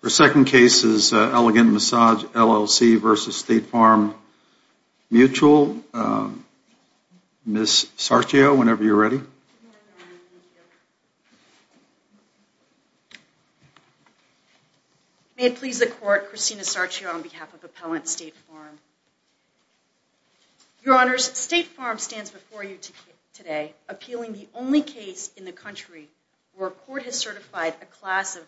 Your second case is Elegant Massage, LLC v. State Farm Mutual. Ms. Sarchio, whenever you're ready. May it please the Court, Christina Sarchio on behalf of Appellant State Farm. Your Honors, State Farm stands before you today appealing the only case in the country where a court has certified a class of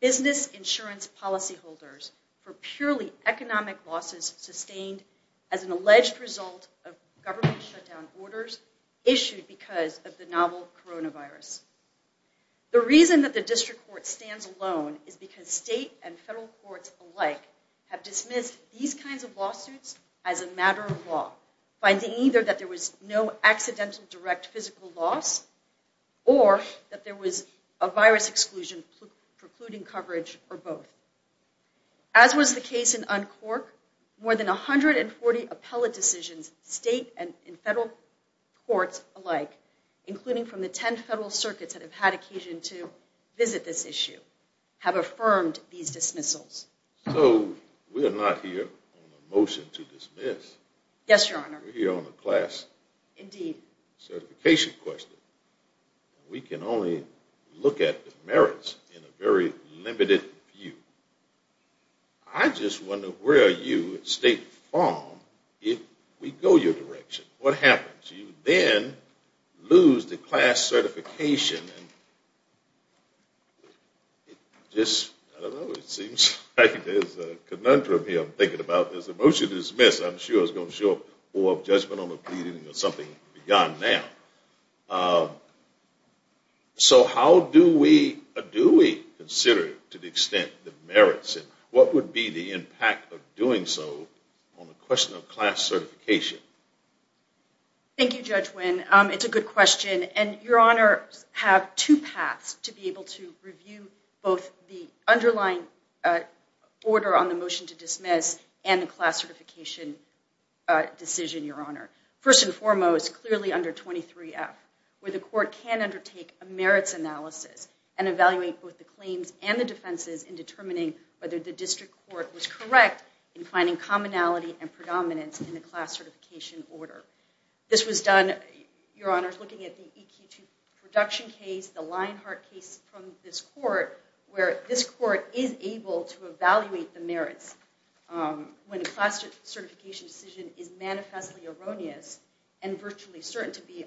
business insurance policyholders for purely economic losses sustained as an alleged result of government shutdown orders issued because of the novel coronavirus. The reason that the District Court stands alone is because state and federal courts alike have dismissed these kinds of lawsuits as a matter of law, finding either that there was no accidental direct physical loss or that there was a virus exclusion precluding coverage for both. As was the case in Uncork, more than 140 appellate decisions, state and federal courts alike, including from the 10 federal circuits that have had occasion to visit this issue, have affirmed these dismissals. So we're not here on a motion to dismiss. Yes, Your Honor. We're here on a class certification question. We can only look at the merits in a very limited view. I just wonder, where are you at State Farm if we go your direction? What happens? You then lose the class certification and it just, I don't know, it seems like there's a conundrum here. I'm thinking about this. The motion to dismiss, I'm sure, is going to show up for a judgment on the pleading or something beyond now. So how do we consider, to the extent, the merits? What would be the impact of doing so on the question of class certification? Thank you, Judge Wynn. It's a good question. And Your Honor, I have two paths to be able to review both the underlying order on the class certification decision, Your Honor. First and foremost, clearly under 23F, where the court can undertake a merits analysis and evaluate both the claims and the defenses in determining whether the district court was correct in finding commonality and predominance in the class certification order. This was done, Your Honor, looking at the EQ2 production case, the Lionheart case from this court, where this court is able to evaluate the merits when a class certification decision is manifestly erroneous and virtually certain to be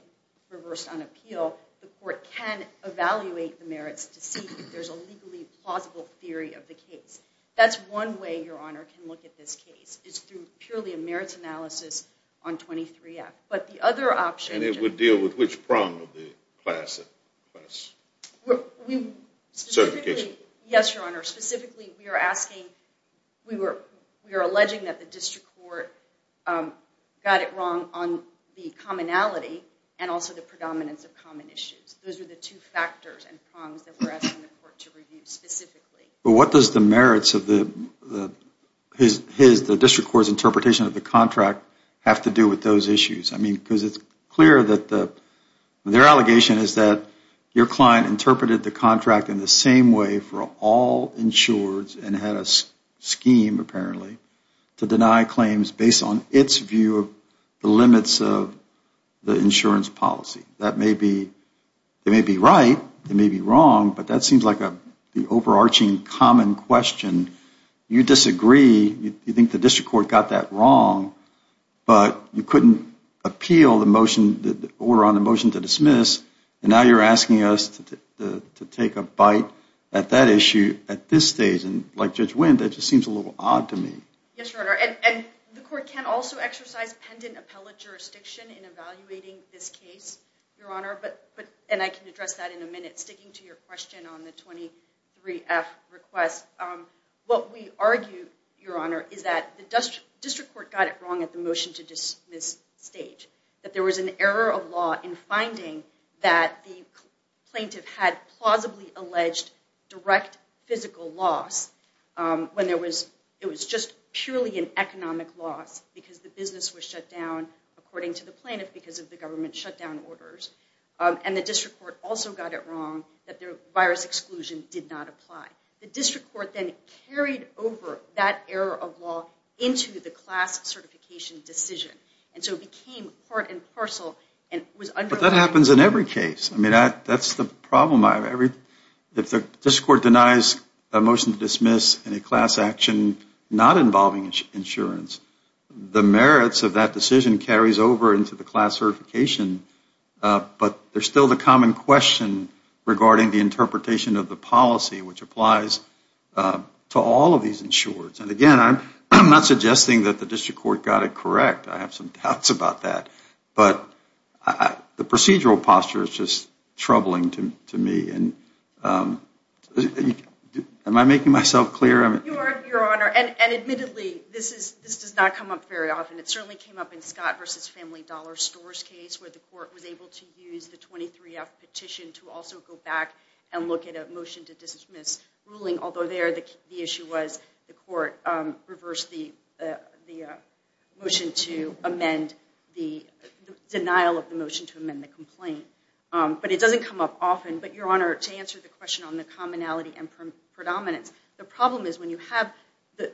reversed on appeal, the court can evaluate the merits to see if there's a legally plausible theory of the case. That's one way, Your Honor, can look at this case, is through purely a merits analysis on 23F. But the other option- And it would deal with which prong of the class? Yes, Your Honor, specifically, we are alleging that the district court got it wrong on the commonality and also the predominance of common issues. Those are the two factors and prongs that we're asking the court to review specifically. What does the merits of the district court's interpretation of the contract have to do with those issues? I mean, because it's clear that their allegation is that your client interpreted the contract in the same way for all insureds and had a scheme, apparently, to deny claims based on its view of the limits of the insurance policy. That may be right, it may be wrong, but that seems like the overarching common question. You disagree, you think the district court got that wrong, but you couldn't appeal the order on the motion to dismiss, and now you're asking us to take a bite at that issue at this stage. And like Judge Wendt, that just seems a little odd to me. Yes, Your Honor. And the court can also exercise pendant appellate jurisdiction in evaluating this case, Your Honor. And I can address that in a minute. Sticking to your question on the 23F request, what we argue, Your Honor, is that the district court got it wrong at the motion to dismiss stage. That there was an error of law in finding that the plaintiff had plausibly alleged direct physical loss when it was just purely an economic loss because the business was shut down, according to the plaintiff, because of the government shutdown orders. And the district court also got it wrong that the virus exclusion did not apply. The district court then carried over that error of law into the class certification decision. And so it became part and parcel and was underlined. But that happens in every case. I mean, that's the problem. If the district court denies a motion to dismiss in a class action not involving insurance, the merits of that decision carries over into the class certification. But there's still the common question regarding the interpretation of the policy, which applies to all of these insurers. And again, I'm not suggesting that the district court got it correct. I have some doubts about that. But the procedural posture is just troubling to me. Am I making myself clear? You are, Your Honor. And admittedly, this does not come up very often. It certainly came up in Scott v. Family Dollar Stores case, where the court was able to use the 23-F petition to also go back and look at a motion to dismiss ruling, although there the issue was the court reversed the denial of the motion to amend the complaint. But it doesn't come up often. But, Your Honor, to answer the question on the commonality and predominance, the problem is when you have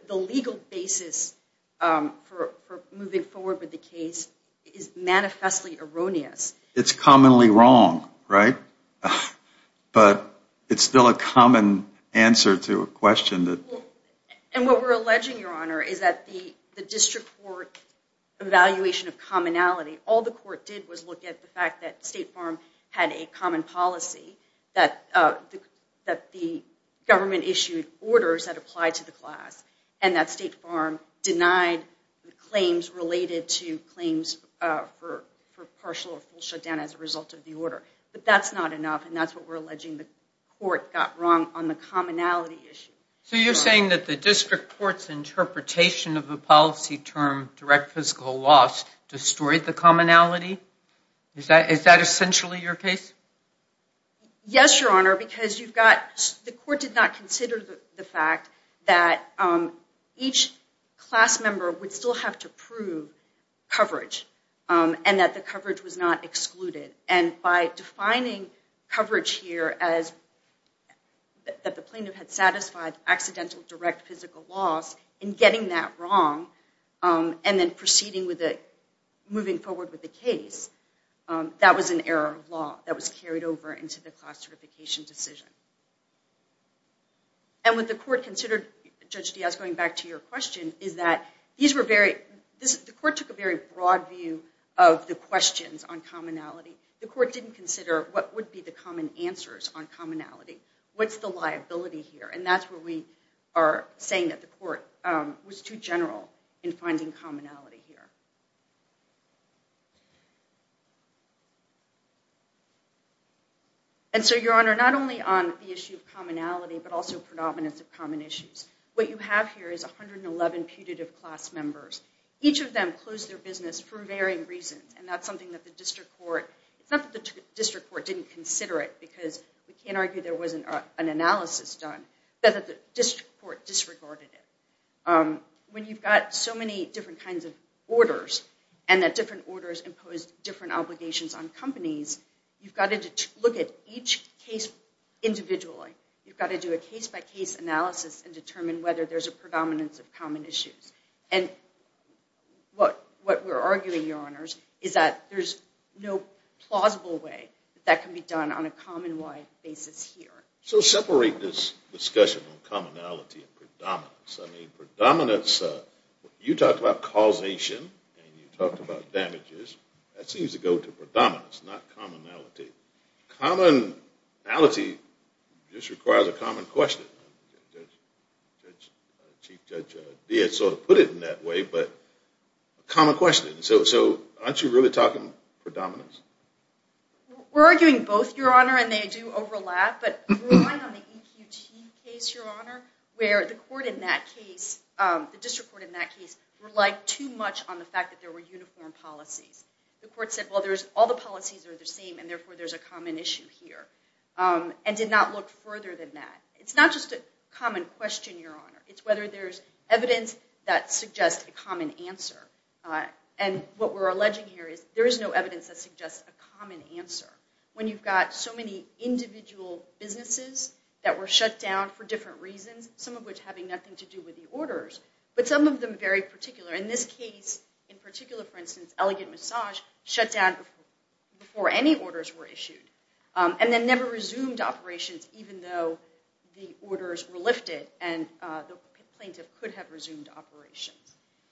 the legal basis for moving forward with the case is manifestly erroneous. It's commonly wrong, right? But it's still a common answer to a question that... And what we're alleging, Your Honor, is that the district court evaluation of commonality, all the court did was look at the fact that State Farm had a common policy, that the government issued orders that applied to the class, and that State Farm denied claims related to claims for partial or full shutdown as a result of the order. But that's not enough, and that's what we're alleging the court got wrong on the commonality issue. So you're saying that the district court's interpretation of the policy term direct fiscal loss destroyed the commonality? Is that essentially your case? Yes, Your Honor, because you've got... The court did not consider the fact that each class member would still have to prove coverage, and that the coverage was not excluded. And by defining coverage here as that the plaintiff had satisfied accidental direct physical loss, and getting that wrong, and then proceeding with it, moving forward with the case, that was an error of law that was carried over into the class certification decision. And what the court considered, Judge Diaz, going back to your question, is that these were very... The court took a very broad view of the questions on commonality. The court didn't consider what would be the common answers on commonality. What's the liability here? And that's where we are saying that the court was too general in finding commonality here. And so, Your Honor, not only on the issue of commonality, but also predominance of common issues. What you have here is 111 putative class members. Each of them closed their business for varying reasons, and that's something that the district court... It's not that the district court didn't consider it, because we can't argue there wasn't an analysis done, but that the district court disregarded it. When you've got so many different kinds of orders, and that different orders impose different obligations on companies, you've got to look at each case individually. You've got to do a case-by-case analysis and determine whether there's a predominance of common issues. And what we're arguing, Your Honors, is that there's no plausible way that that can be done on a common-wide basis here. So separate this discussion on commonality and predominance. I mean, predominance, you talked about causation, and you talked about damages. That seems to go to predominance, not commonality. Commonality just requires a common question. Chief Judge Beatt sort of put it in that way, but a common question. So aren't you really talking predominance? We're arguing both, Your Honor, and they do overlap, but relying on the EQT case, Your Honor, where the court in that case, the district court in that case, relied too much on the fact that there were uniform policies. The court said, well, all the policies are the same, and therefore there's a common issue here, and did not look further than that. It's not just a common question, Your Honor. It's whether there's evidence that suggests a common answer. And what we're alleging here is there is no evidence that suggests a common answer when you've got so many individual businesses that were shut down for different reasons, some of which having nothing to do with the orders, but some of them very particular. In this case, in particular, for instance, Elegant Massage shut down before any orders were issued, and then never resumed operations even though the orders were lifted and the plaintiff could have resumed operations.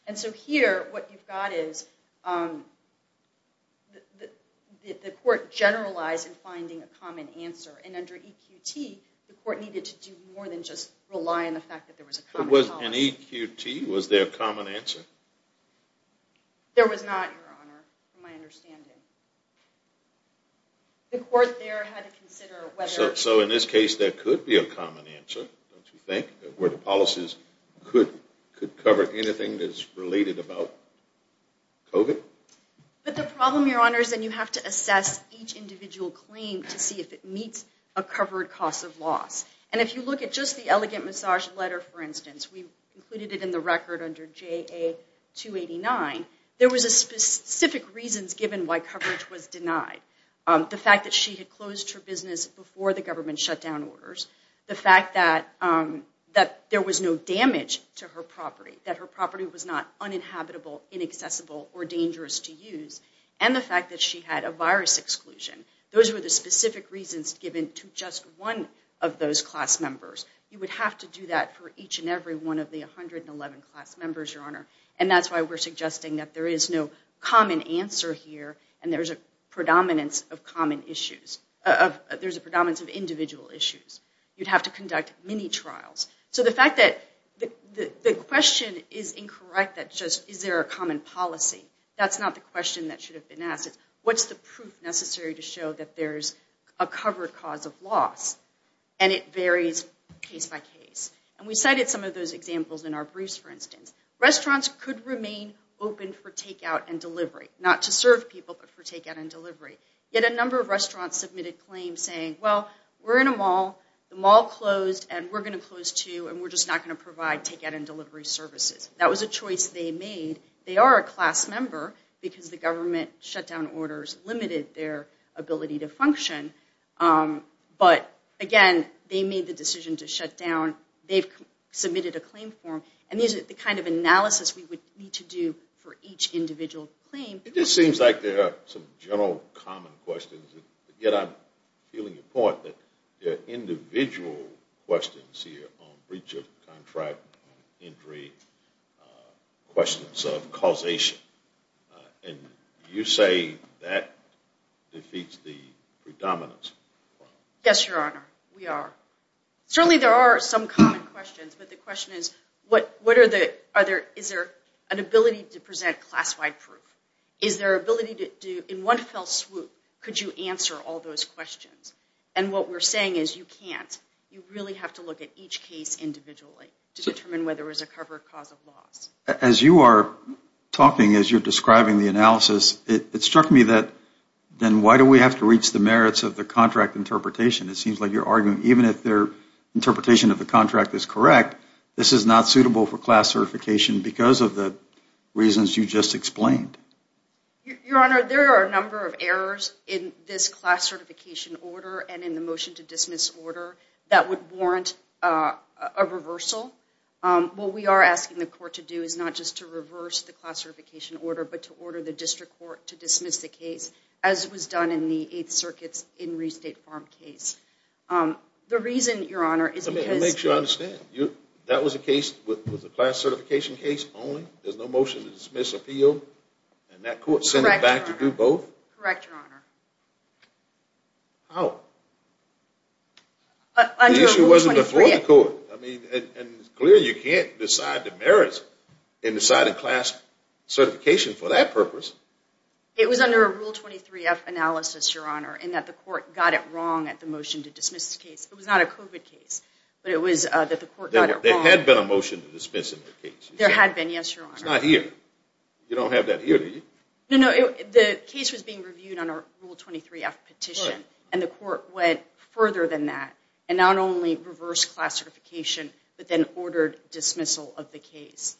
And so here, what you've got is the court generalized in finding a common answer, and under EQT, the court needed to do more than just rely on the fact that there was a common policy. In EQT, was there a common answer? There was not, Your Honor, from my understanding. The court there had to consider whether... So in this case, there could be a common answer, don't you think, where the policies could cover anything that's related about COVID? But the problem, Your Honor, is that you have to assess each individual claim to see if it meets a covered cost of loss. And if you look at just the Elegant Massage letter, for instance, we included it in the record under JA-289, there was specific reasons given why coverage was denied. The fact that she had closed her business before the government shut down orders, the there was no damage to her property, that her property was not uninhabitable, inaccessible, or dangerous to use, and the fact that she had a virus exclusion. Those were the specific reasons given to just one of those class members. You would have to do that for each and every one of the 111 class members, Your Honor. And that's why we're suggesting that there is no common answer here, and there's a predominance of common issues... There's a predominance of individual issues. You'd have to conduct mini-trials. So the fact that the question is incorrect, that just, is there a common policy? That's not the question that should have been asked. What's the proof necessary to show that there's a covered cost of loss? And it varies case by case. And we cited some of those examples in our briefs, for instance. Restaurants could remain open for takeout and delivery, not to serve people, but for takeout and delivery. Yet a number of restaurants submitted claims saying, well, we're in a mall, the mall closed, and we're going to close too, and we're just not going to provide takeout and delivery services. That was a choice they made. They are a class member, because the government shutdown orders limited their ability to function. But again, they made the decision to shut down. They've submitted a claim form. And these are the kind of analysis we would need to do for each individual claim. It just seems like there are some general common questions, yet I'm feeling your point that there are individual questions here on breach of contract, on injury, questions of causation. And you say that defeats the predominance. Yes, Your Honor, we are. Certainly there are some common questions, but the question is, is there an ability to present class-wide proof? Is there an ability to, in one fell swoop, could you answer all those questions? And what we're saying is, you can't. You really have to look at each case individually to determine whether it was a covered cause of loss. As you are talking, as you're describing the analysis, it struck me that, then why do we have to reach the merits of the contract interpretation? It seems like you're arguing even if their interpretation of the contract is correct, this is not suitable for class certification because of the reasons you just explained. Your Honor, there are a number of errors in this class certification order and in the motion to dismiss order that would warrant a reversal. What we are asking the court to do is not just to reverse the class certification order, but to order the district court to dismiss the case, as was done in the Eighth Circuit's In Re-State Farm case. The reason, Your Honor, is because- Let me make sure I understand. That was a case with a class certification case only? There's no motion to dismiss appeal? And that court sent it back to do both? Correct, Your Honor. How? The issue wasn't before the court. It's clear you can't decide the merits and decide a class certification for that purpose. It was under a Rule 23F analysis, Your Honor, in that the court got it wrong at the motion to dismiss the case. It was not a COVID case, but it was that the court got it wrong. There had been a motion to dismiss in that case. There had been, yes, Your Honor. It's not here. You don't have that here, do you? No, no. The case was being reviewed on a Rule 23F petition, and the court went further than that and not only reversed class certification, but then ordered dismissal of the case.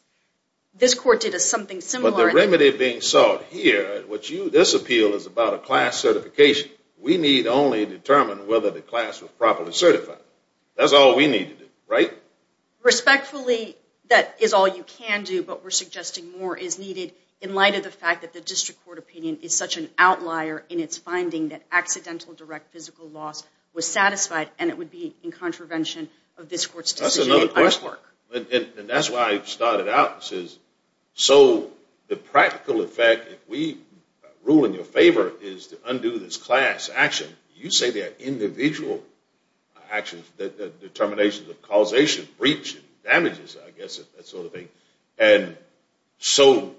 This court did something similar- But the remedy being sought here, this appeal is about a class certification. We need only determine whether the class was properly certified. That's all we need to do, right? Respectfully, that is all you can do, but we're suggesting more is needed in light of the fact that the district court opinion is such an outlier in its finding that accidental direct physical loss was satisfied, and it would be in contravention of this court's decision- That's another coursework. And that's why I started out and says, so the practical effect, if we rule in your favor, is to undo this class action. You say there are individual actions, determinations of causation, breach, damages, I guess, that sort of thing. And so,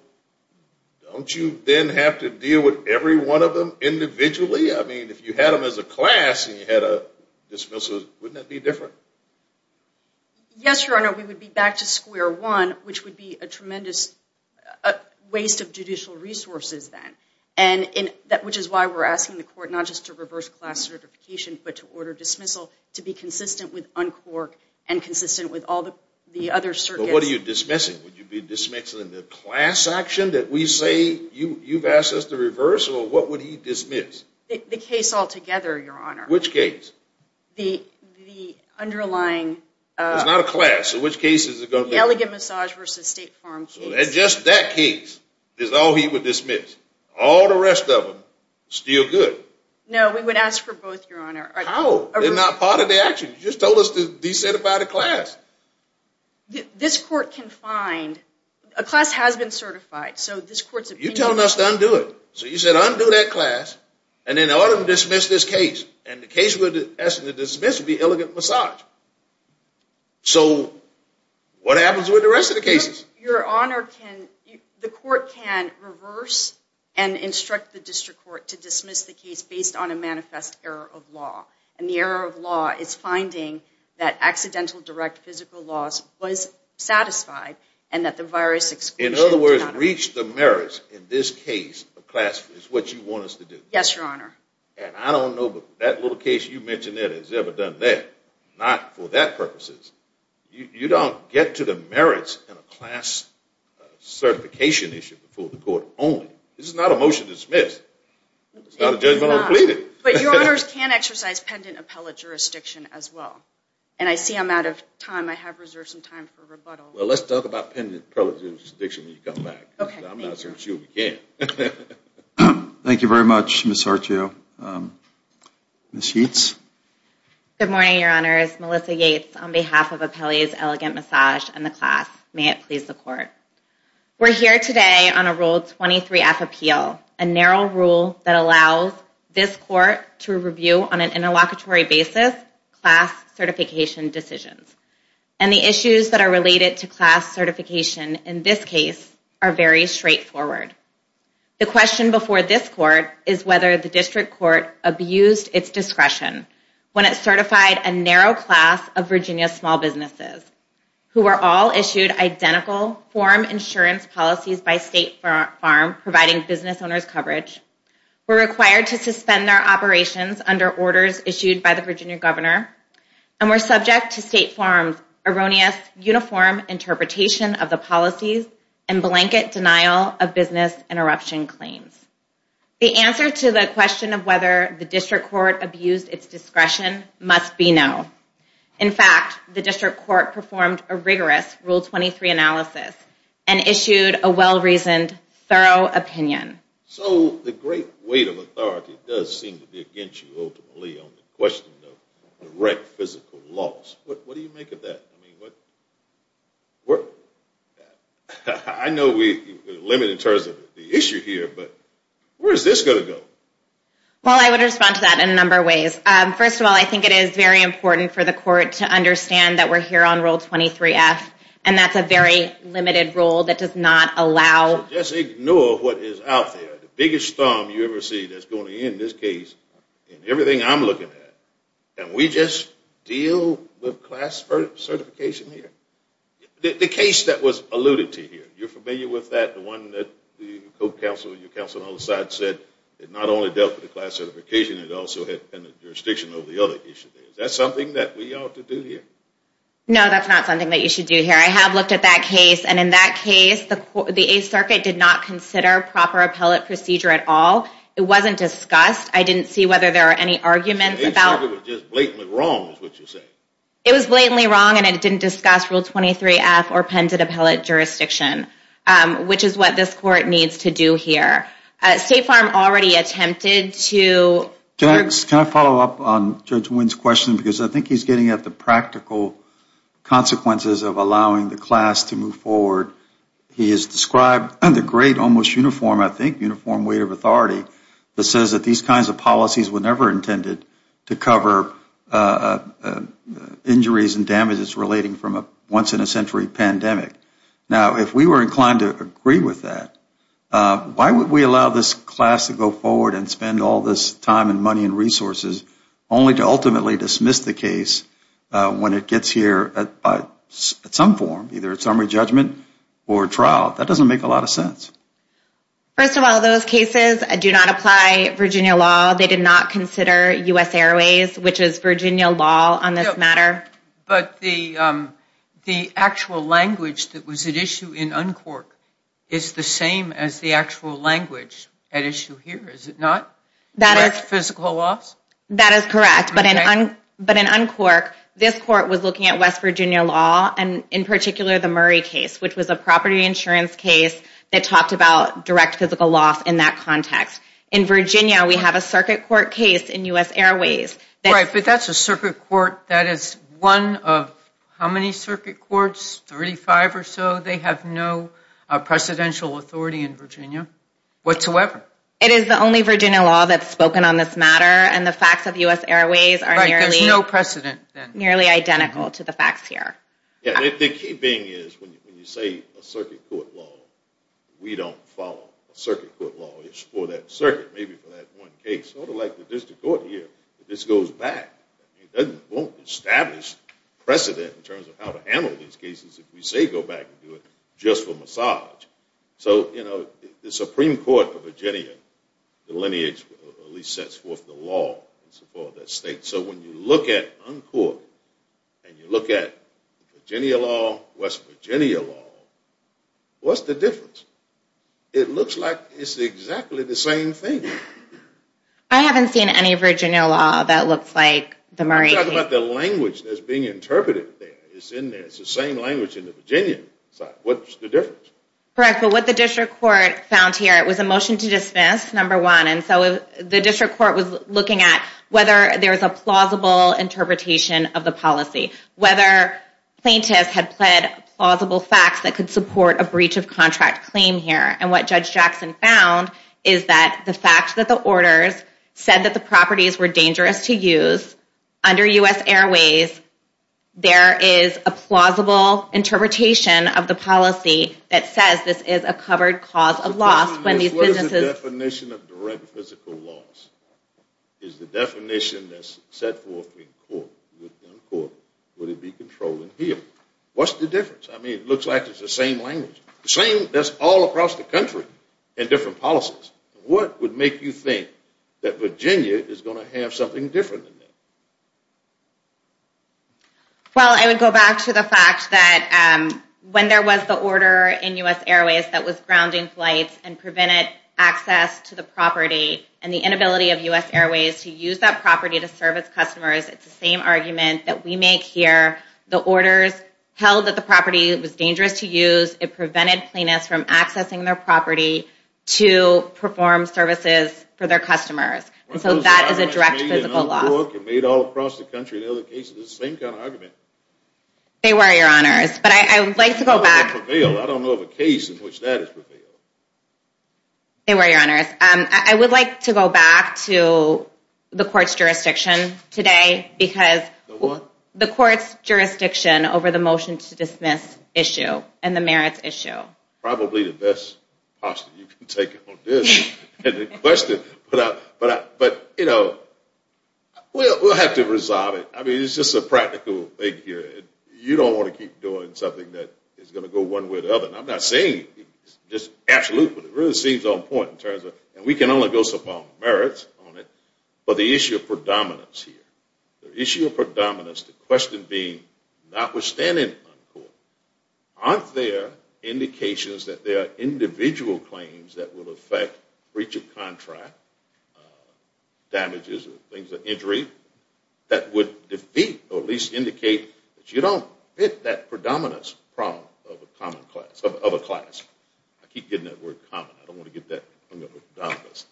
don't you then have to deal with every one of them individually? I mean, if you had them as a class and you had a dismissal, wouldn't that be different? Yes, Your Honor, we would be back to square one, which would be a tremendous waste of judicial resources then. Which is why we're asking the court not just to reverse class certification, but to order dismissal to be consistent with uncork and consistent with all the other circuits- But what are you dismissing? Would you be dismissing the class action that we say you've asked us to reverse, or what would he dismiss? The case altogether, Your Honor. Which case? The underlying- It's not a class, so which case is it going to be? The elegant massage versus state farm case. Just that case is all he would dismiss. All the rest of them, still good. No, we would ask for both, Your Honor. How? They're not part of the action. You just told us to decertify the class. This court can find- a class has been certified, so this court's opinion- You're telling us to undo it. So you said, undo that class, and then order them to dismiss this case. And the case we're asking to dismiss would be elegant massage. So what happens with the rest of the cases? Your Honor, the court can reverse and instruct the district court to dismiss the case based on a manifest error of law. And the error of law is finding that accidental direct physical loss was satisfied, and that the virus- In other words, reach the merits in this case of class, is what you want us to do. Yes, Your Honor. And I don't know, but that little case you mentioned that has ever done that. Not for that purposes. You don't get to the merits in a class certification issue before the court only. This is not a motion to dismiss. It's not a judgment on the pleaded. But Your Honors, can exercise pendant appellate jurisdiction as well. And I see I'm out of time. I have reserved some time for rebuttal. Well, let's talk about pendant appellate jurisdiction when you come back. I'm not certain she'll be here. Thank you very much, Ms. Arcio. Good morning, Your Honors. Melissa Yates on behalf of the Department of Justice. On behalf of Appellee's Elegant Massage and the class, may it please the court. We're here today on a Rule 23F appeal, a narrow rule that allows this court to review on an interlocutory basis class certification decisions. And the issues that are related to class certification in this case are very straightforward. The question before this court is whether the district court abused its discretion when it certified a narrow class of Virginia small businesses who are all issued identical form insurance policies by State Farm providing business owners coverage, were required to suspend their operations under orders issued by the Virginia governor, and were subject to State Farm's erroneous uniform interpretation of the policies and blanket denial of business interruption claims. The answer to the question of whether the district court abused its discretion must be no. In fact, the district court performed a rigorous Rule 23 analysis and issued a well-reasoned, thorough opinion. So the great weight of authority does seem to be against you, ultimately, on the question of direct physical loss. What do you make of that? I know we're limited in terms of the issue here, but where is this going to go? Well, I would respond to that in a number of ways. First of all, I think it is very important for the court to understand that we're here on Rule 23F, and that's a very limited rule that does not allow... Just ignore what is out there. The biggest storm you ever see that's going to end this case in everything I'm looking at. And we just deal with class certification here? The case that was alluded to here, you're familiar with that? The one that the co-counsel, your counsel on the other side, said it not only dealt with the class certification, it also had jurisdiction over the other issues. Is that something that we ought to do here? No, that's not something that you should do here. I have looked at that case, and in that case, the 8th Circuit did not consider proper appellate procedure at all. It wasn't discussed. I didn't see whether there were any arguments about... The 8th Circuit was just blatantly wrong, is what you're saying? It was blatantly wrong, and it didn't discuss Rule 23F or appended appellate jurisdiction, which is what this court needs to do here. State Farm already attempted to... Can I follow up on Judge Wynn's question? Because I think he's getting at the practical consequences of allowing the class to move forward. He has described the great, almost uniform, I think, uniform weight of authority that says that these kinds of policies were never intended to cover injuries and damages relating from a once-in-a-century pandemic. Now, if we were inclined to agree with that, why would we allow this class to go forward and spend all this time and money and resources only to ultimately dismiss the case when it gets here at some form, either at summary judgment or trial? That doesn't make a lot of sense. First of all, those cases do not apply Virginia law. They did not consider U.S. Airways, which is Virginia law on this matter. But the actual language that was at issue in Uncork is the same as the actual language at issue here, is it not? Less physical loss? That is correct. But in Uncork, this court was looking at West Virginia law, and in particular, the Murray case, which was a property insurance case that talked about direct physical loss in that context. In Virginia, we have a circuit court case in U.S. Airways. Right, but that's a circuit court that is one of how many circuit courts? Thirty-five or so? They have no precedential authority in Virginia whatsoever. It is the only Virginia law that's spoken on this matter, and the facts of U.S. Airways are nearly... Right, there's no precedent then. ...nearly identical to the facts here. Yeah, the key thing is when you say a circuit court law, we don't follow a circuit court law. It's for that circuit, maybe for that one case. Sort of like the district court here, this goes back. It won't establish precedent in terms of how to handle these cases if we say go back and do it just for massage. So, you know, the Supreme Court of Virginia, the lineage, at least sets forth the law in support of that state. So when you look at uncourt, and you look at Virginia law, West Virginia law, what's the difference? It looks like it's exactly the same thing. I haven't seen any Virginia law that looks like the Murray case. I'm talking about the language that's being interpreted there. It's in there. It's the same language in the Virginia side. What's the difference? Correct, but what the district court found here, it was a motion to dismiss, number one, so the district court was looking at whether there was a plausible interpretation of the policy. Whether plaintiffs had pled plausible facts that could support a breach of contract claim here. And what Judge Jackson found is that the fact that the orders said that the properties were dangerous to use under U.S. Airways, there is a plausible interpretation of the policy that says this is a covered cause of loss. What is the definition of direct physical loss? Is the definition that's set forth in court, would it be controlled in here? What's the difference? I mean, it looks like it's the same language. The same, that's all across the country in different policies. What would make you think that Virginia is going to have something different in there? Well, I would go back to the fact that when there was the order in U.S. Airways that was grounding flights and prevented access to the property and the inability of U.S. Airways to use that property to serve its customers, it's the same argument that we make here. The orders held that the property was dangerous to use, it prevented plaintiffs from accessing their property to perform services for their customers. And so that is a direct physical loss. Made all across the country in other cases. It's the same kind of argument. They were, Your Honors. But I would like to go back. I don't know of a case in which that is prevailed. They were, Your Honors. I would like to go back to the court's jurisdiction today because the court's jurisdiction over the motion to dismiss issue and the merits issue. Probably the best posture you can take on this and the question. But, you know, we'll have to resolve it. I mean, it's just a practical thing here. You don't want to keep doing something that is going to go one way or the other. And I'm not saying, just absolutely. It really seems on point in terms of, and we can only go so far on merits on it, but the issue of predominance here. The issue of predominance, the question being, notwithstanding uncourt, aren't there indications that there are individual claims that will affect breach of contract, damages or things of injury that would defeat or at least indicate that you don't fit that predominance problem of a class. I keep getting that word common. I don't want to get that predominance.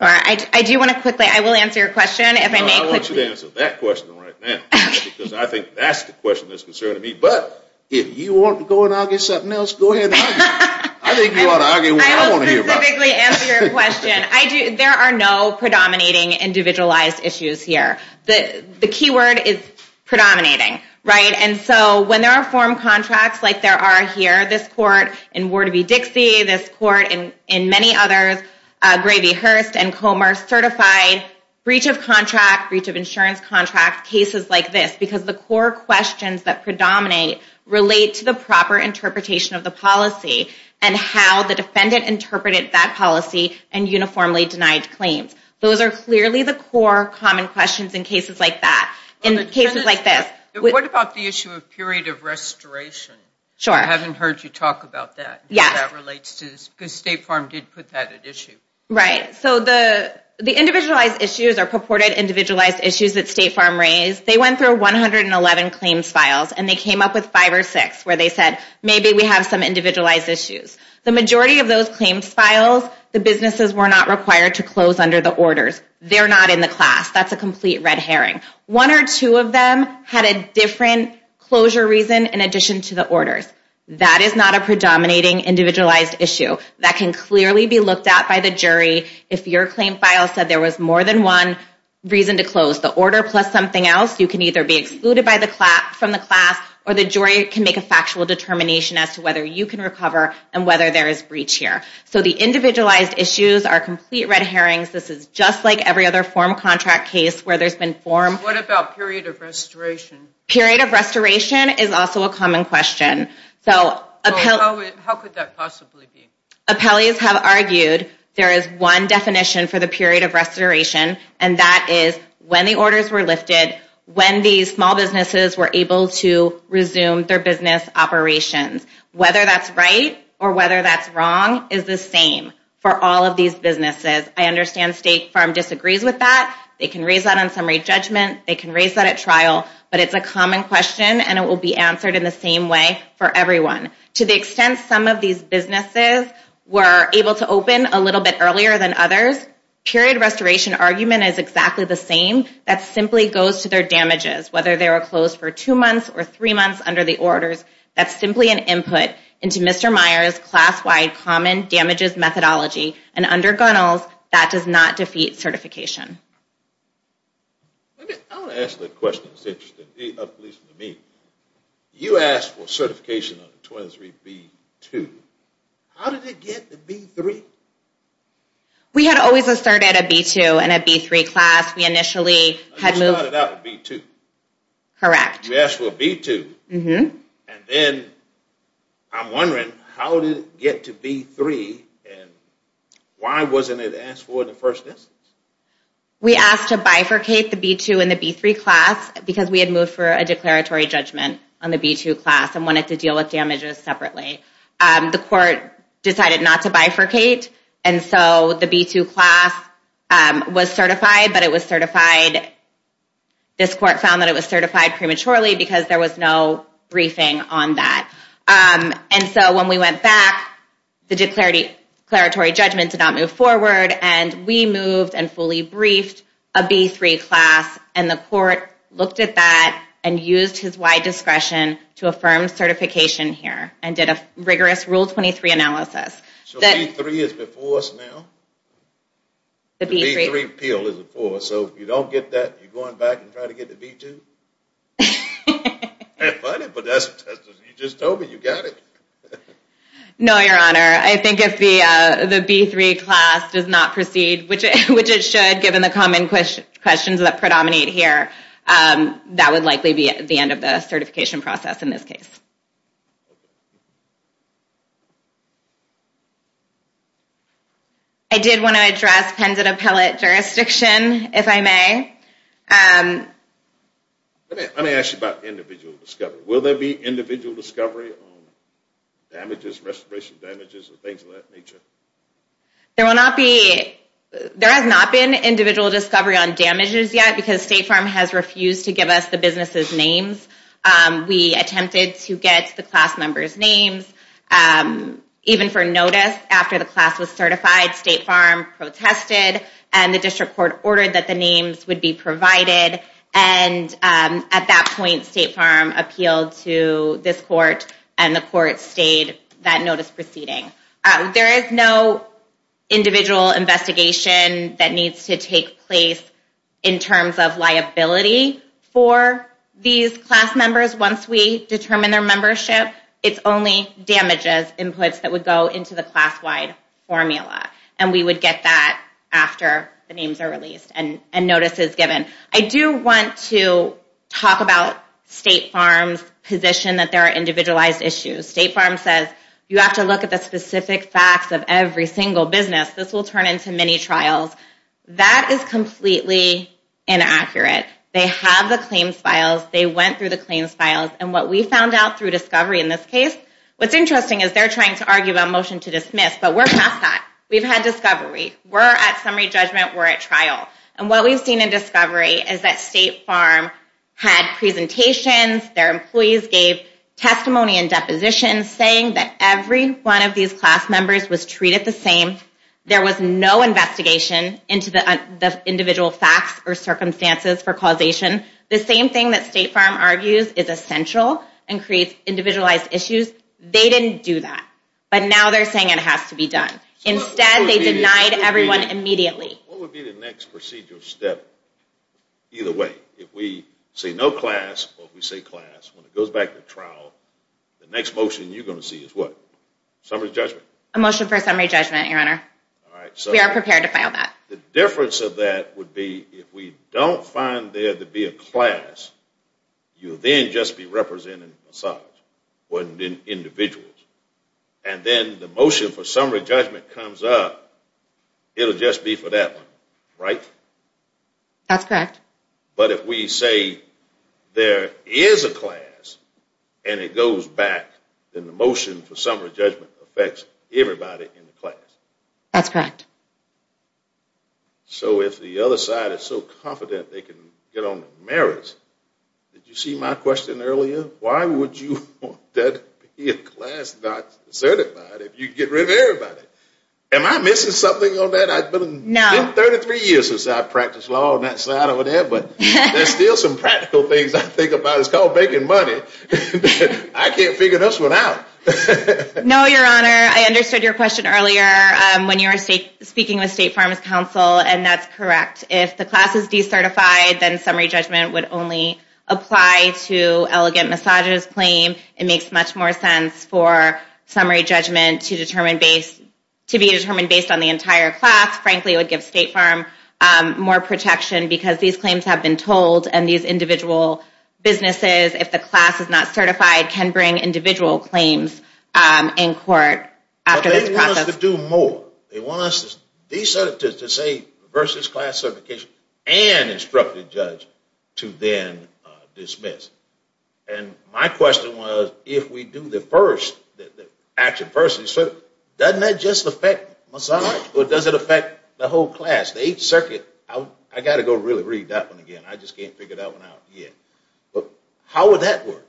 I do want to quickly, I will answer your question. I want you to answer that question right now because I think that's the question that's concerning me. But if you want to go and argue something else, go ahead and argue. I think you ought to argue what I want to hear. I will specifically answer your question. There are no predominating individualized issues here. The key word is predominating. And so when there are form contracts like there are here, this court in Warder v. Dixie, this court and many others, Graveyhurst and Comer, certified breach of contract, breach of insurance contract, cases like this because the core questions that predominate relate to the proper interpretation of the policy and how the defendant interpreted that policy and uniformly denied claims. Those are clearly the core common questions in cases like that, in cases like this. What about the issue of period of restoration? Sure. I haven't heard you talk about that, how that relates to this because State Farm did put that at issue. Right. So the individualized issues are purported individualized issues that State Farm raised. They went through 111 claims files and they came up with five or six where they said, maybe we have some individualized issues. The majority of those claims files, the businesses were not required to close under the orders. They're not in the class. That's a complete red herring. One or two of them had a different closure reason in addition to the orders. That is not a predominating individualized issue. That can clearly be looked at by the jury if your claim file said there was more than one reason to close. The order plus something else, you can either be excluded from the class or the jury can make a factual determination as to whether you can recover and whether there is breach here. So the individualized issues are complete red herrings. This is just like every other form contract case where there's been form. What about period of restoration? Period of restoration is also a common question. How could that possibly be? Appellees have argued there is one definition for the period of restoration and that is when the orders were lifted, when these small businesses were able to resume their business operations. Whether that's right or whether that's wrong is the same for all of these businesses. I understand State Farm disagrees with that. They can raise that on summary judgment. They can raise that at trial, but it's a common question and it will be answered in the same way for everyone. To the extent some of these businesses were able to open a little bit earlier than others, period of restoration argument is exactly the same. That simply goes to their damages, whether they were closed for two months or three months under the orders. That's simply an input into Mr. Meyer's class-wide common damages methodology. And under Gunnell's, that does not defeat certification. I want to ask a question that's interesting to me. You asked for certification on 23B2. How did it get to B3? We had always asserted a B2 and a B3 class. We initially had moved... We started out with B2. Correct. We asked for a B2. And then I'm wondering how did it get to B3 and why wasn't it asked for in the first instance? We asked to bifurcate the B2 and the B3 class because we had moved for a declaratory judgment on the B2 class and wanted to deal with damages separately. The court decided not to bifurcate. And so the B2 class was certified, but it was certified... This court found that it was certified prematurely because there was no briefing on that. And so when we went back, the declaratory judgment did not move forward. And we moved and fully briefed a B3 class. And the court looked at that and used his wide discretion to affirm certification here and did a rigorous Rule 23 analysis. So B3 is before us now? The B3 appeal is before us. So if you don't get that, you're going back and trying to get the B2? That's funny, but you just told me you got it. No, Your Honor. I think if the B3 class does not proceed, which it should given the common questions that predominate here, that would likely be the end of the certification process in this case. Okay. I did want to address pendant appellate jurisdiction, if I may. Let me ask you about individual discovery. Will there be individual discovery on damages, restoration damages, and things of that nature? There has not been individual discovery on damages yet, because State Farm has refused to give us the businesses' names. We attempted to get the class members' names. Even for notice, after the class was certified, State Farm protested, and the district court ordered that the names would be provided. And at that point, State Farm appealed to this court, and the court stayed that notice proceeding. There is no individual investigation that needs to take place in terms of liability for these class members. Once we determine their membership, it's only damages inputs that would go into the class-wide formula, and we would get that after the names are released and notice is given. I do want to talk about State Farm's position that there are individualized issues. State Farm says, you have to look at the specific facts of every single business. This will turn into many trials. That is completely inaccurate. They have the claims files. They went through the claims files, and what we found out through discovery in this case, what's interesting is they're trying to argue about motion to dismiss, but we're past that. We've had discovery. We're at summary judgment. We're at trial. And what we've seen in discovery is that State Farm had presentations. Their employees gave testimony and depositions saying that every one of these class members was treated the same. There was no investigation into the individual facts or circumstances for causation. The same thing that State Farm argues is essential and creates individualized issues. They didn't do that, but now they're saying it has to be done. Instead, they denied everyone immediately. What would be the next procedural step either way? If we say no class or we say class, when it goes back to trial, the next motion you're going to see is what? Summary judgment? A motion for summary judgment, Your Honor. We are prepared to file that. The difference of that would be if we don't find there to be a class, you then just be representing a size. It wouldn't be individuals. And then the motion for summary judgment comes up, it'll just be for that one, right? That's correct. But if we say there is a class and it goes back, then the motion for summary judgment affects everybody in the class. That's correct. So if the other side is so confident they can get on the merits, did you see my question earlier? Why would you want there to be a class not certified if you could get rid of everybody? Am I missing something on that? No. 33 years since I practiced law on that side over there, but there's still some practical things I think about. It's called making money. I can't figure this one out. No, Your Honor. I understood your question earlier when you were speaking with State Farmers Council, and that's correct. If the class is decertified, then summary judgment would only apply to elegant massages claim. It makes much more sense for summary judgment to be determined based on the entire class. Frankly, it would give State Farm more protection because these claims have been told, and these individual businesses, if the class is not certified, can bring individual claims in court after this process. They want us to do more. They want us to say versus class certification and instructed judge to then dismiss. My question was, if we do the first, the action first, doesn't that just affect massage, or does it affect the whole class? The 8th Circuit, I got to go really read that one again. I just can't figure that one out yet. How would that work?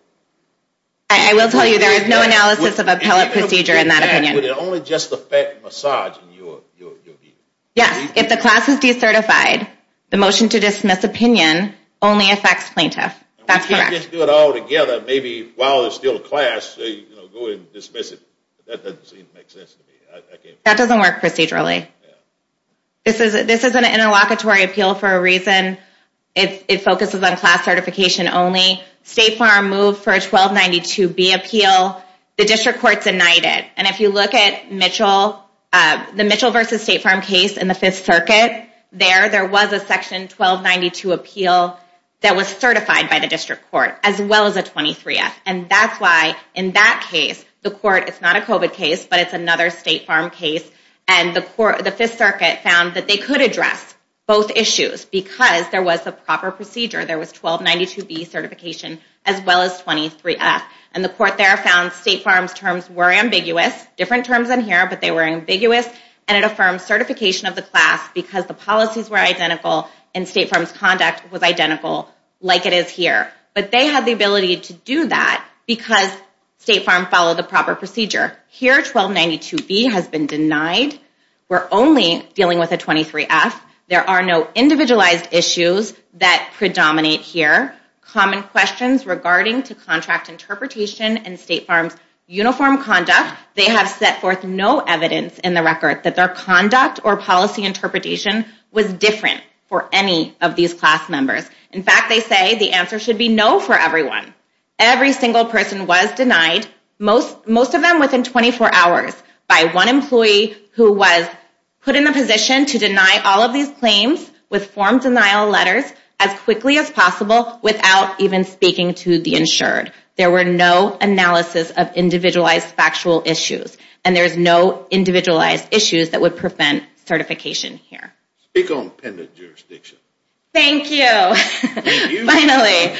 I will tell you there is no analysis of appellate procedure in that opinion. Would it only just affect massage in your view? Yes. If the class is decertified, the motion to dismiss opinion only affects plaintiff. That's correct. If we can do it all together, maybe while it's still class, go ahead and dismiss it. That doesn't seem to make sense to me. That doesn't work procedurally. This is an interlocutory appeal for a reason. It focuses on class certification only. State Farm moved for a 1292B appeal. The district court denied it. If you look at the Mitchell v. State Farm case in the 5th Circuit, there was a section 1292 appeal that was certified by the district court as well as a 23F. That's why in that case, the court, it's not a COVID case, but it's another State Farm case. The 5th Circuit found that they could address both issues because there was a proper procedure. There was 1292B certification as well as 23F. And the court there found State Farm's terms were ambiguous. Different terms in here, but they were ambiguous. And it affirms certification of the class because the policies were identical and State Farm's conduct was identical like it is here. But they had the ability to do that because State Farm followed the proper procedure. Here, 1292B has been denied. We're only dealing with a 23F. There are no individualized issues that predominate here. Common questions regarding to contract interpretation and State Farm's uniform conduct. They have set forth no evidence in the record that their conduct or policy interpretation was different for any of these class members. In fact, they say the answer should be no for everyone. Every single person was denied. Most of them within 24 hours by one employee who was put in a position to deny all of these claims with form denial letters as quickly as possible without even speaking to the insured. There were no analysis of individualized factual issues. And there's no individualized issues that would prevent certification here. Speak on appendage jurisdiction. Thank you. Finally,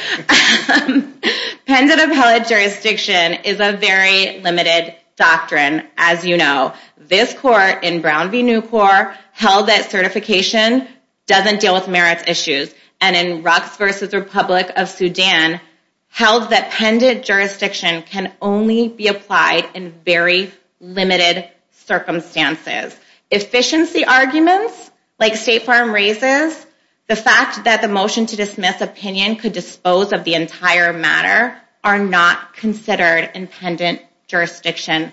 pendent appellate jurisdiction is a very limited doctrine as you know. This court in Brown v. Nucor held that certification doesn't deal with merits issues. And in Rucks v. Republic of Sudan held that pendent jurisdiction can only be applied in very limited circumstances. Efficiency arguments like State Farm raises, the fact that the motion to dismiss opinion could dispose of the entire matter are not considered in pendent jurisdiction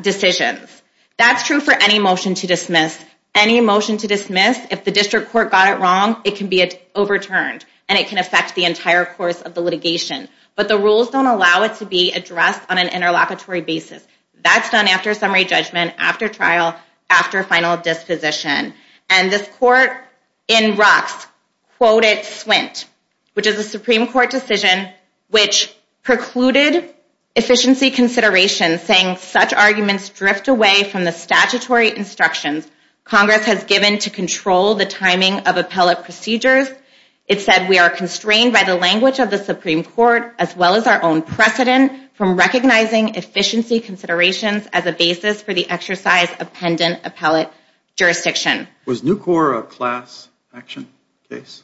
decisions. That's true for any motion to dismiss. Any motion to dismiss, if the district court got it wrong, it can be overturned. And it can affect the entire course of the litigation. But the rules don't allow it to be addressed on an interlocutory basis. That's done after summary judgment, after trial, after final disposition. And this court in Rucks quoted SWINT, which is a Supreme Court decision which precluded efficiency consideration saying such arguments drift away from the statutory instructions Congress has given to control the timing of appellate procedures. It said we are constrained by the language of the Supreme Court as well as our own precedent from recognizing efficiency considerations as a basis for the exercise of pendent appellate jurisdiction. Was Nucor a class action case?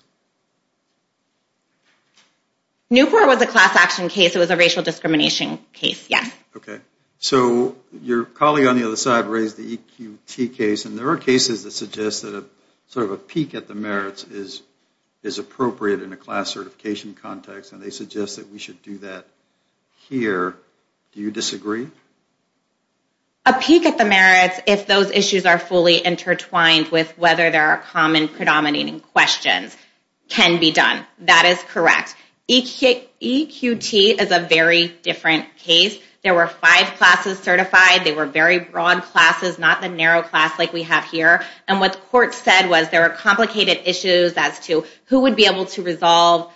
Nucor was a class action case. It was a racial discrimination case, yes. Okay. So your colleague on the other side raised the EQT case. And there are cases that suggest that sort of a peek at the merits is appropriate in a class certification context. And they suggest that we should do that here. Do you disagree? A peek at the merits, if those issues are fully intertwined with whether there are common predominating questions, can be done. That is correct. EQT is a very different case. There were five classes certified. They were very broad classes, not the narrow class like we have here. And what the court said was there were complicated issues as to who would be able to resolve,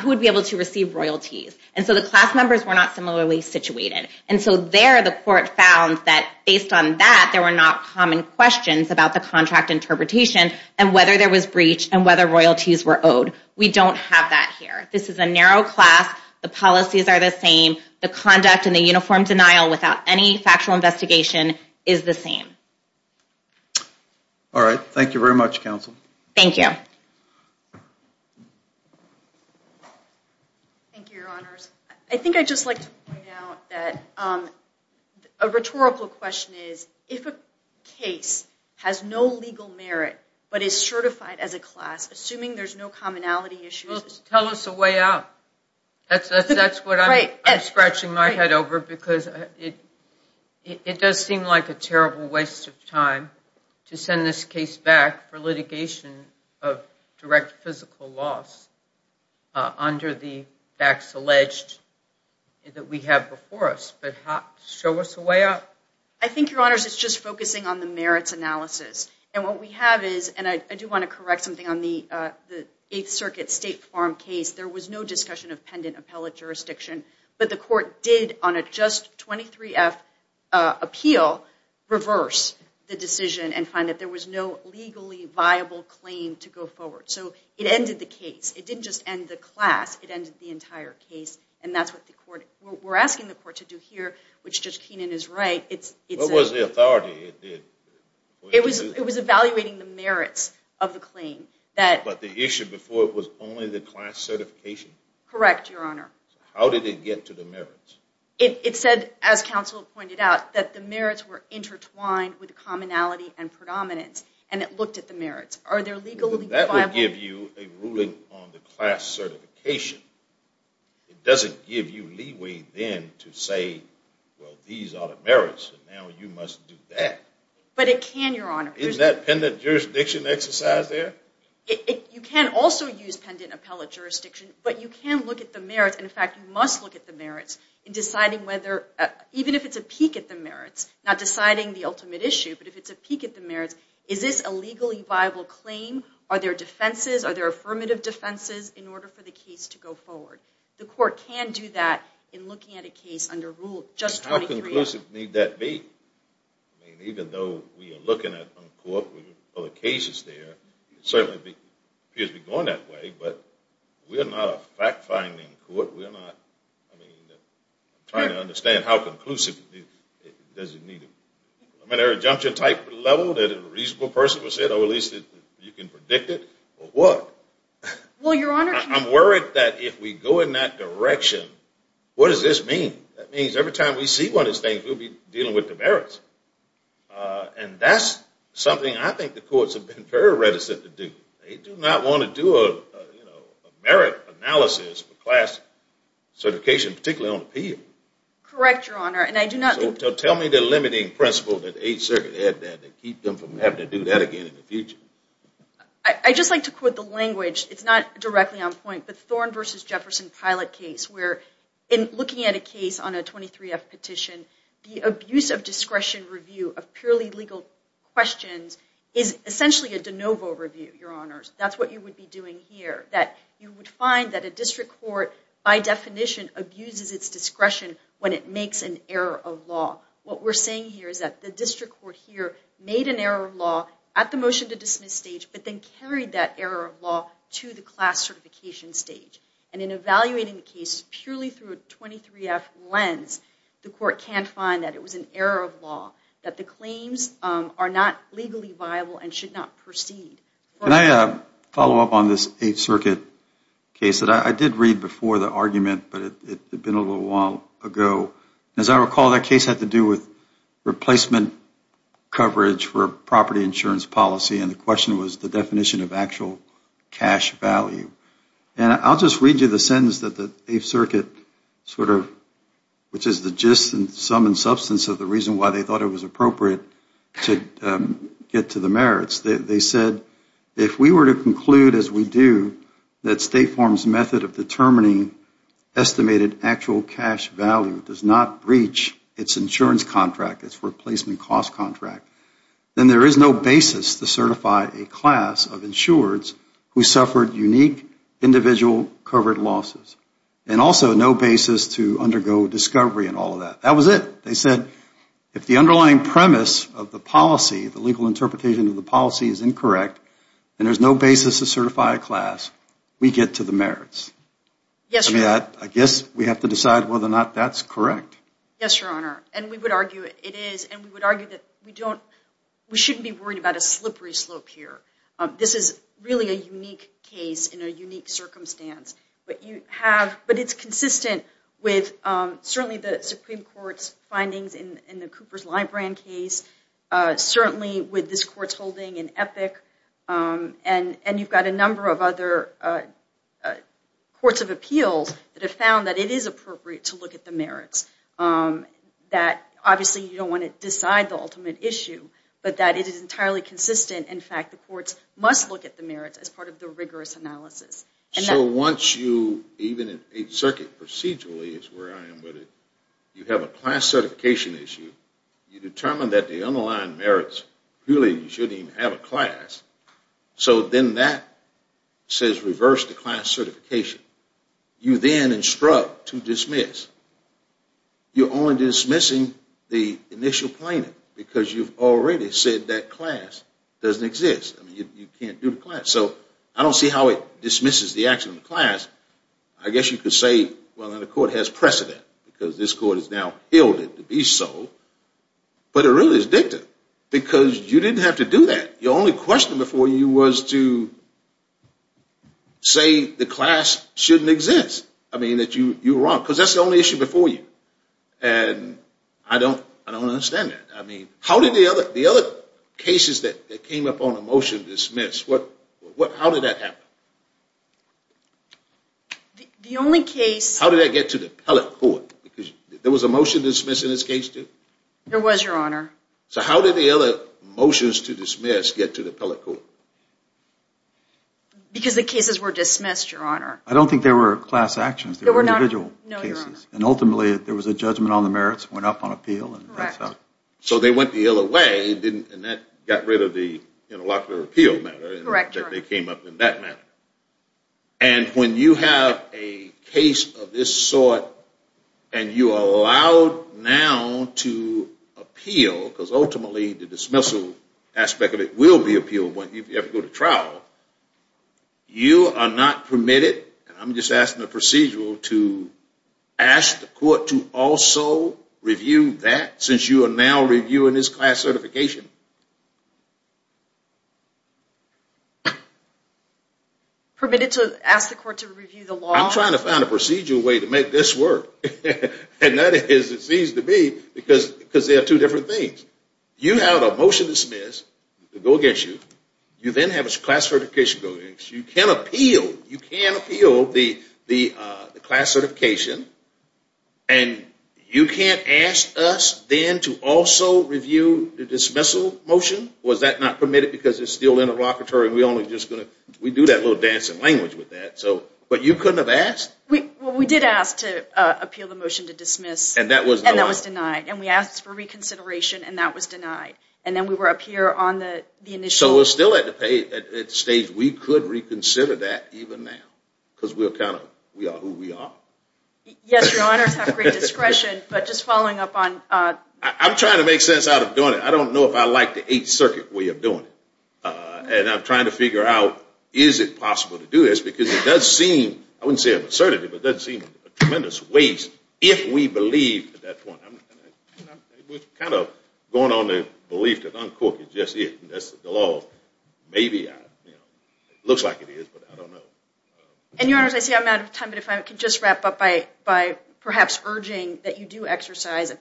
who would be able to receive royalties. And so the class members were not similarly situated. And so there the court found that based on that there were not common questions about the contract interpretation and whether there was breach and whether royalties were owed. We don't have that here. This is a narrow class. The policies are the same. The conduct and the uniform denial without any factual investigation is the same. All right. Thank you very much, Counsel. Thank you. Thank you, Your Honors. I think I'd just like to point out that a rhetorical question is if a case has no legal merit but is certified as a class, assuming there's no commonality issues. Tell us a way out. That's what I'm scratching my head over because it does seem like a terrible waste of time to send this case back for litigation of direct physical loss under the facts alleged that we have before us. But show us a way out. I think, Your Honors, it's just focusing on the merits analysis. And I do want to correct something on the Eighth Circuit State Farm case. There was no discussion of pendant appellate jurisdiction. But the court did on a just 23-F appeal reverse the decision and find that there was no legally viable claim to go forward. So it ended the case. It didn't just end the class. It ended the entire case. And that's what we're asking the court to do here, which Judge Keenan is right. What was the authority? It was evaluating the merits of the claim. But the issue before was only the class certification? Correct, Your Honor. How did it get to the merits? It said, as counsel pointed out, that the merits were intertwined with commonality and predominance. And it looked at the merits. Are there legally viable? That would give you a ruling on the class certification. It doesn't give you leeway then to say, well, these are the merits, and now you must do that. But it can, Your Honor. Isn't that pendant jurisdiction exercise there? You can also use pendant appellate jurisdiction, but you can look at the merits. In fact, you must look at the merits in deciding whether, even if it's a peak at the merits, not deciding the ultimate issue, but if it's a peak at the merits, is this a legally viable claim? Are there defenses? Are there affirmative defenses in order for the case to go forward? The court can do that in looking at a case under Rule 23. How conclusive need that be? I mean, even though we are looking at court with other cases there, it certainly appears to be going that way. But we are not a fact-finding court. We are not. I mean, I'm trying to understand how conclusive does it need to be. I mean, is there a junction type level that a reasonable person would say, oh, at least you can predict it? Or what? Well, Your Honor. I'm worried that if we go in that direction, what does this mean? That means every time we see one of these things, we'll be dealing with the merits. And that's something I think the courts have been very reticent to do. They do not want to do a merit analysis for class certification, particularly on appeal. Correct, Your Honor. So tell me the limiting principle that the Eighth Circuit had to keep them from having to do that again in the future. I'd just like to quote the language. It's not directly on point, but Thorne v. Jefferson pilot case, where in looking at a case on a 23-F petition, the abuse of discretion review of purely legal questions is essentially a de novo review, Your Honors. That's what you would be doing here. That you would find that a district court, by definition, abuses its discretion when it makes an error of law. What we're saying here is that the district court here made an error of law at the motion to dismiss stage, but then carried that error of law to the class certification stage. And in evaluating the case purely through a 23-F lens, the court can find that it was an error of law, that the claims are not legally viable and should not proceed. Can I follow up on this Eighth Circuit case? I did read before the argument, but it had been a little while ago. As I recall, that case had to do with replacement coverage for property insurance policy, and the question was the definition of actual cash value. And I'll just read you the sentence that the Eighth Circuit sort of, which is the gist and sum and substance of the reason why they thought it was appropriate to get to the merits. They said, if we were to conclude, as we do, that State Farm's method of determining estimated actual cash value does not breach its insurance contract, its replacement cost contract, then there is no basis to certify a class of insureds who suffered unique individual covered losses. And also, no basis to undergo discovery and all of that. That was it. They said, if the underlying premise of the policy, the legal interpretation of the policy is incorrect, and there's no basis to certify a class, we get to the merits. Yes, Your Honor. I guess we have to decide whether or not that's correct. Yes, Your Honor. And we would argue it is, and we would argue that we don't, we shouldn't be worried about a slippery slope here. This is really a unique case in a unique circumstance. But you have, but it's consistent with certainly the Supreme Court's findings in the Coopers-Lybrand case, certainly with this Court's holding in Epic, and you've got a number of other courts of appeals that have found that it is appropriate to look at the merits. That, obviously, you don't want to decide the ultimate issue, but that it is entirely consistent. In fact, the courts must look at the merits as part of the rigorous analysis. So once you, even in Eighth Circuit, procedurally is where I am with it, you have a class certification issue, you determine that the underlying merits really shouldn't even have a class, so then that says reverse the class certification. You then instruct to dismiss. You're only dismissing the initial plaintiff because you've already said that class doesn't exist. I mean, you can't do the class. So I don't see how it dismisses the action of the class. I guess you could say, well, now the court has precedent because this court has now held it to be so, but it really is dicta because you didn't have to do that. Your only question before you was to say the class shouldn't exist. I mean, that you were wrong because that's the only issue before you. And I don't understand that. I mean, the other cases that came up on a motion to dismiss, how did that happen? How did that get to the appellate court? There was a motion to dismiss in this case, too? There was, Your Honor. So how did the other motions to dismiss get to the appellate court? Because the cases were dismissed, Your Honor. I don't think they were class actions. They were individual cases. And ultimately, there was a judgment on the merits, went up on appeal. So they went the other way, and that got rid of the interlocutor appeal matter, and they came up in that matter. And when you have a case of this sort and you are allowed now to appeal, because ultimately the dismissal aspect of it will be appealed when you go to trial, you are not permitted, and I'm just asking the procedural, to ask the court to also review that since you are now reviewing this class certification. Permitted to ask the court to review the law? I'm trying to find a procedural way to make this work. And that is, it seems to be, because there are two different things. You have a motion to dismiss, it will go against you. You then have a class certification. You can appeal the class certification, and you can't ask us then to also review the dismissal motion? Was that not permitted because it's still interlocutory? We do that little dance in language with that. But you couldn't have asked? We did ask to appeal the motion to dismiss, and that was denied. And we asked for reconsideration, and that was denied. And then we were up here on the initial. So we're still at the stage, we could reconsider that even now, because we're kind of, we are who we are. Yes, your honors have great discretion, but just following up on. I'm trying to make sense out of doing it. I don't know if I like the Eighth Circuit way of doing it. And I'm trying to figure out, is it possible to do this? Because it does seem, I wouldn't say absurdity, but it does seem a tremendous waste if we believe at that point. I'm kind of going on the belief that Uncooked is just it, and that's the law. Maybe, it looks like it is, but I don't know. And your honors, I see I'm out of time, but if I could just wrap up by perhaps urging that you do exercise a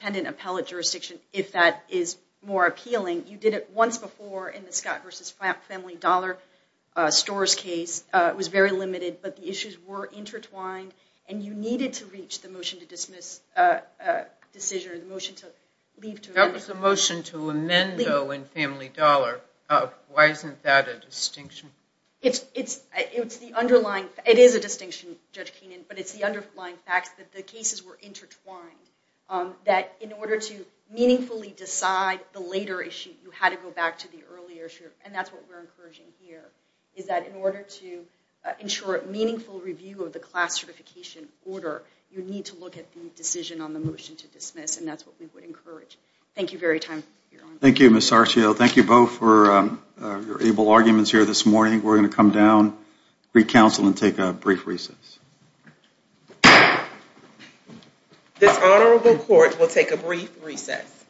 pendant appellate jurisdiction if that is more appealing. You did it once before in the Scott v. Family Dollar Stores case. It was very limited, but the issues were intertwined, and you needed to reach the motion to dismiss decision or the motion to leave to amend. That was the motion to amend, though, in Family Dollar. Why isn't that a distinction? It is a distinction, Judge Keenan, but it's the underlying fact that the cases were intertwined, that in order to meaningfully decide the later issue, you had to go back to the earlier issue, and that's what we're encouraging here, is that in order to ensure meaningful review of the class certification order, you need to look at the decision on the motion to dismiss, and that's what we would encourage. Thank you very much. Thank you, Ms. Sarchio. Thank you both for your able arguments here this morning. We're going to come down, recounsel, and take a brief recess. This Honorable Court will take a brief recess.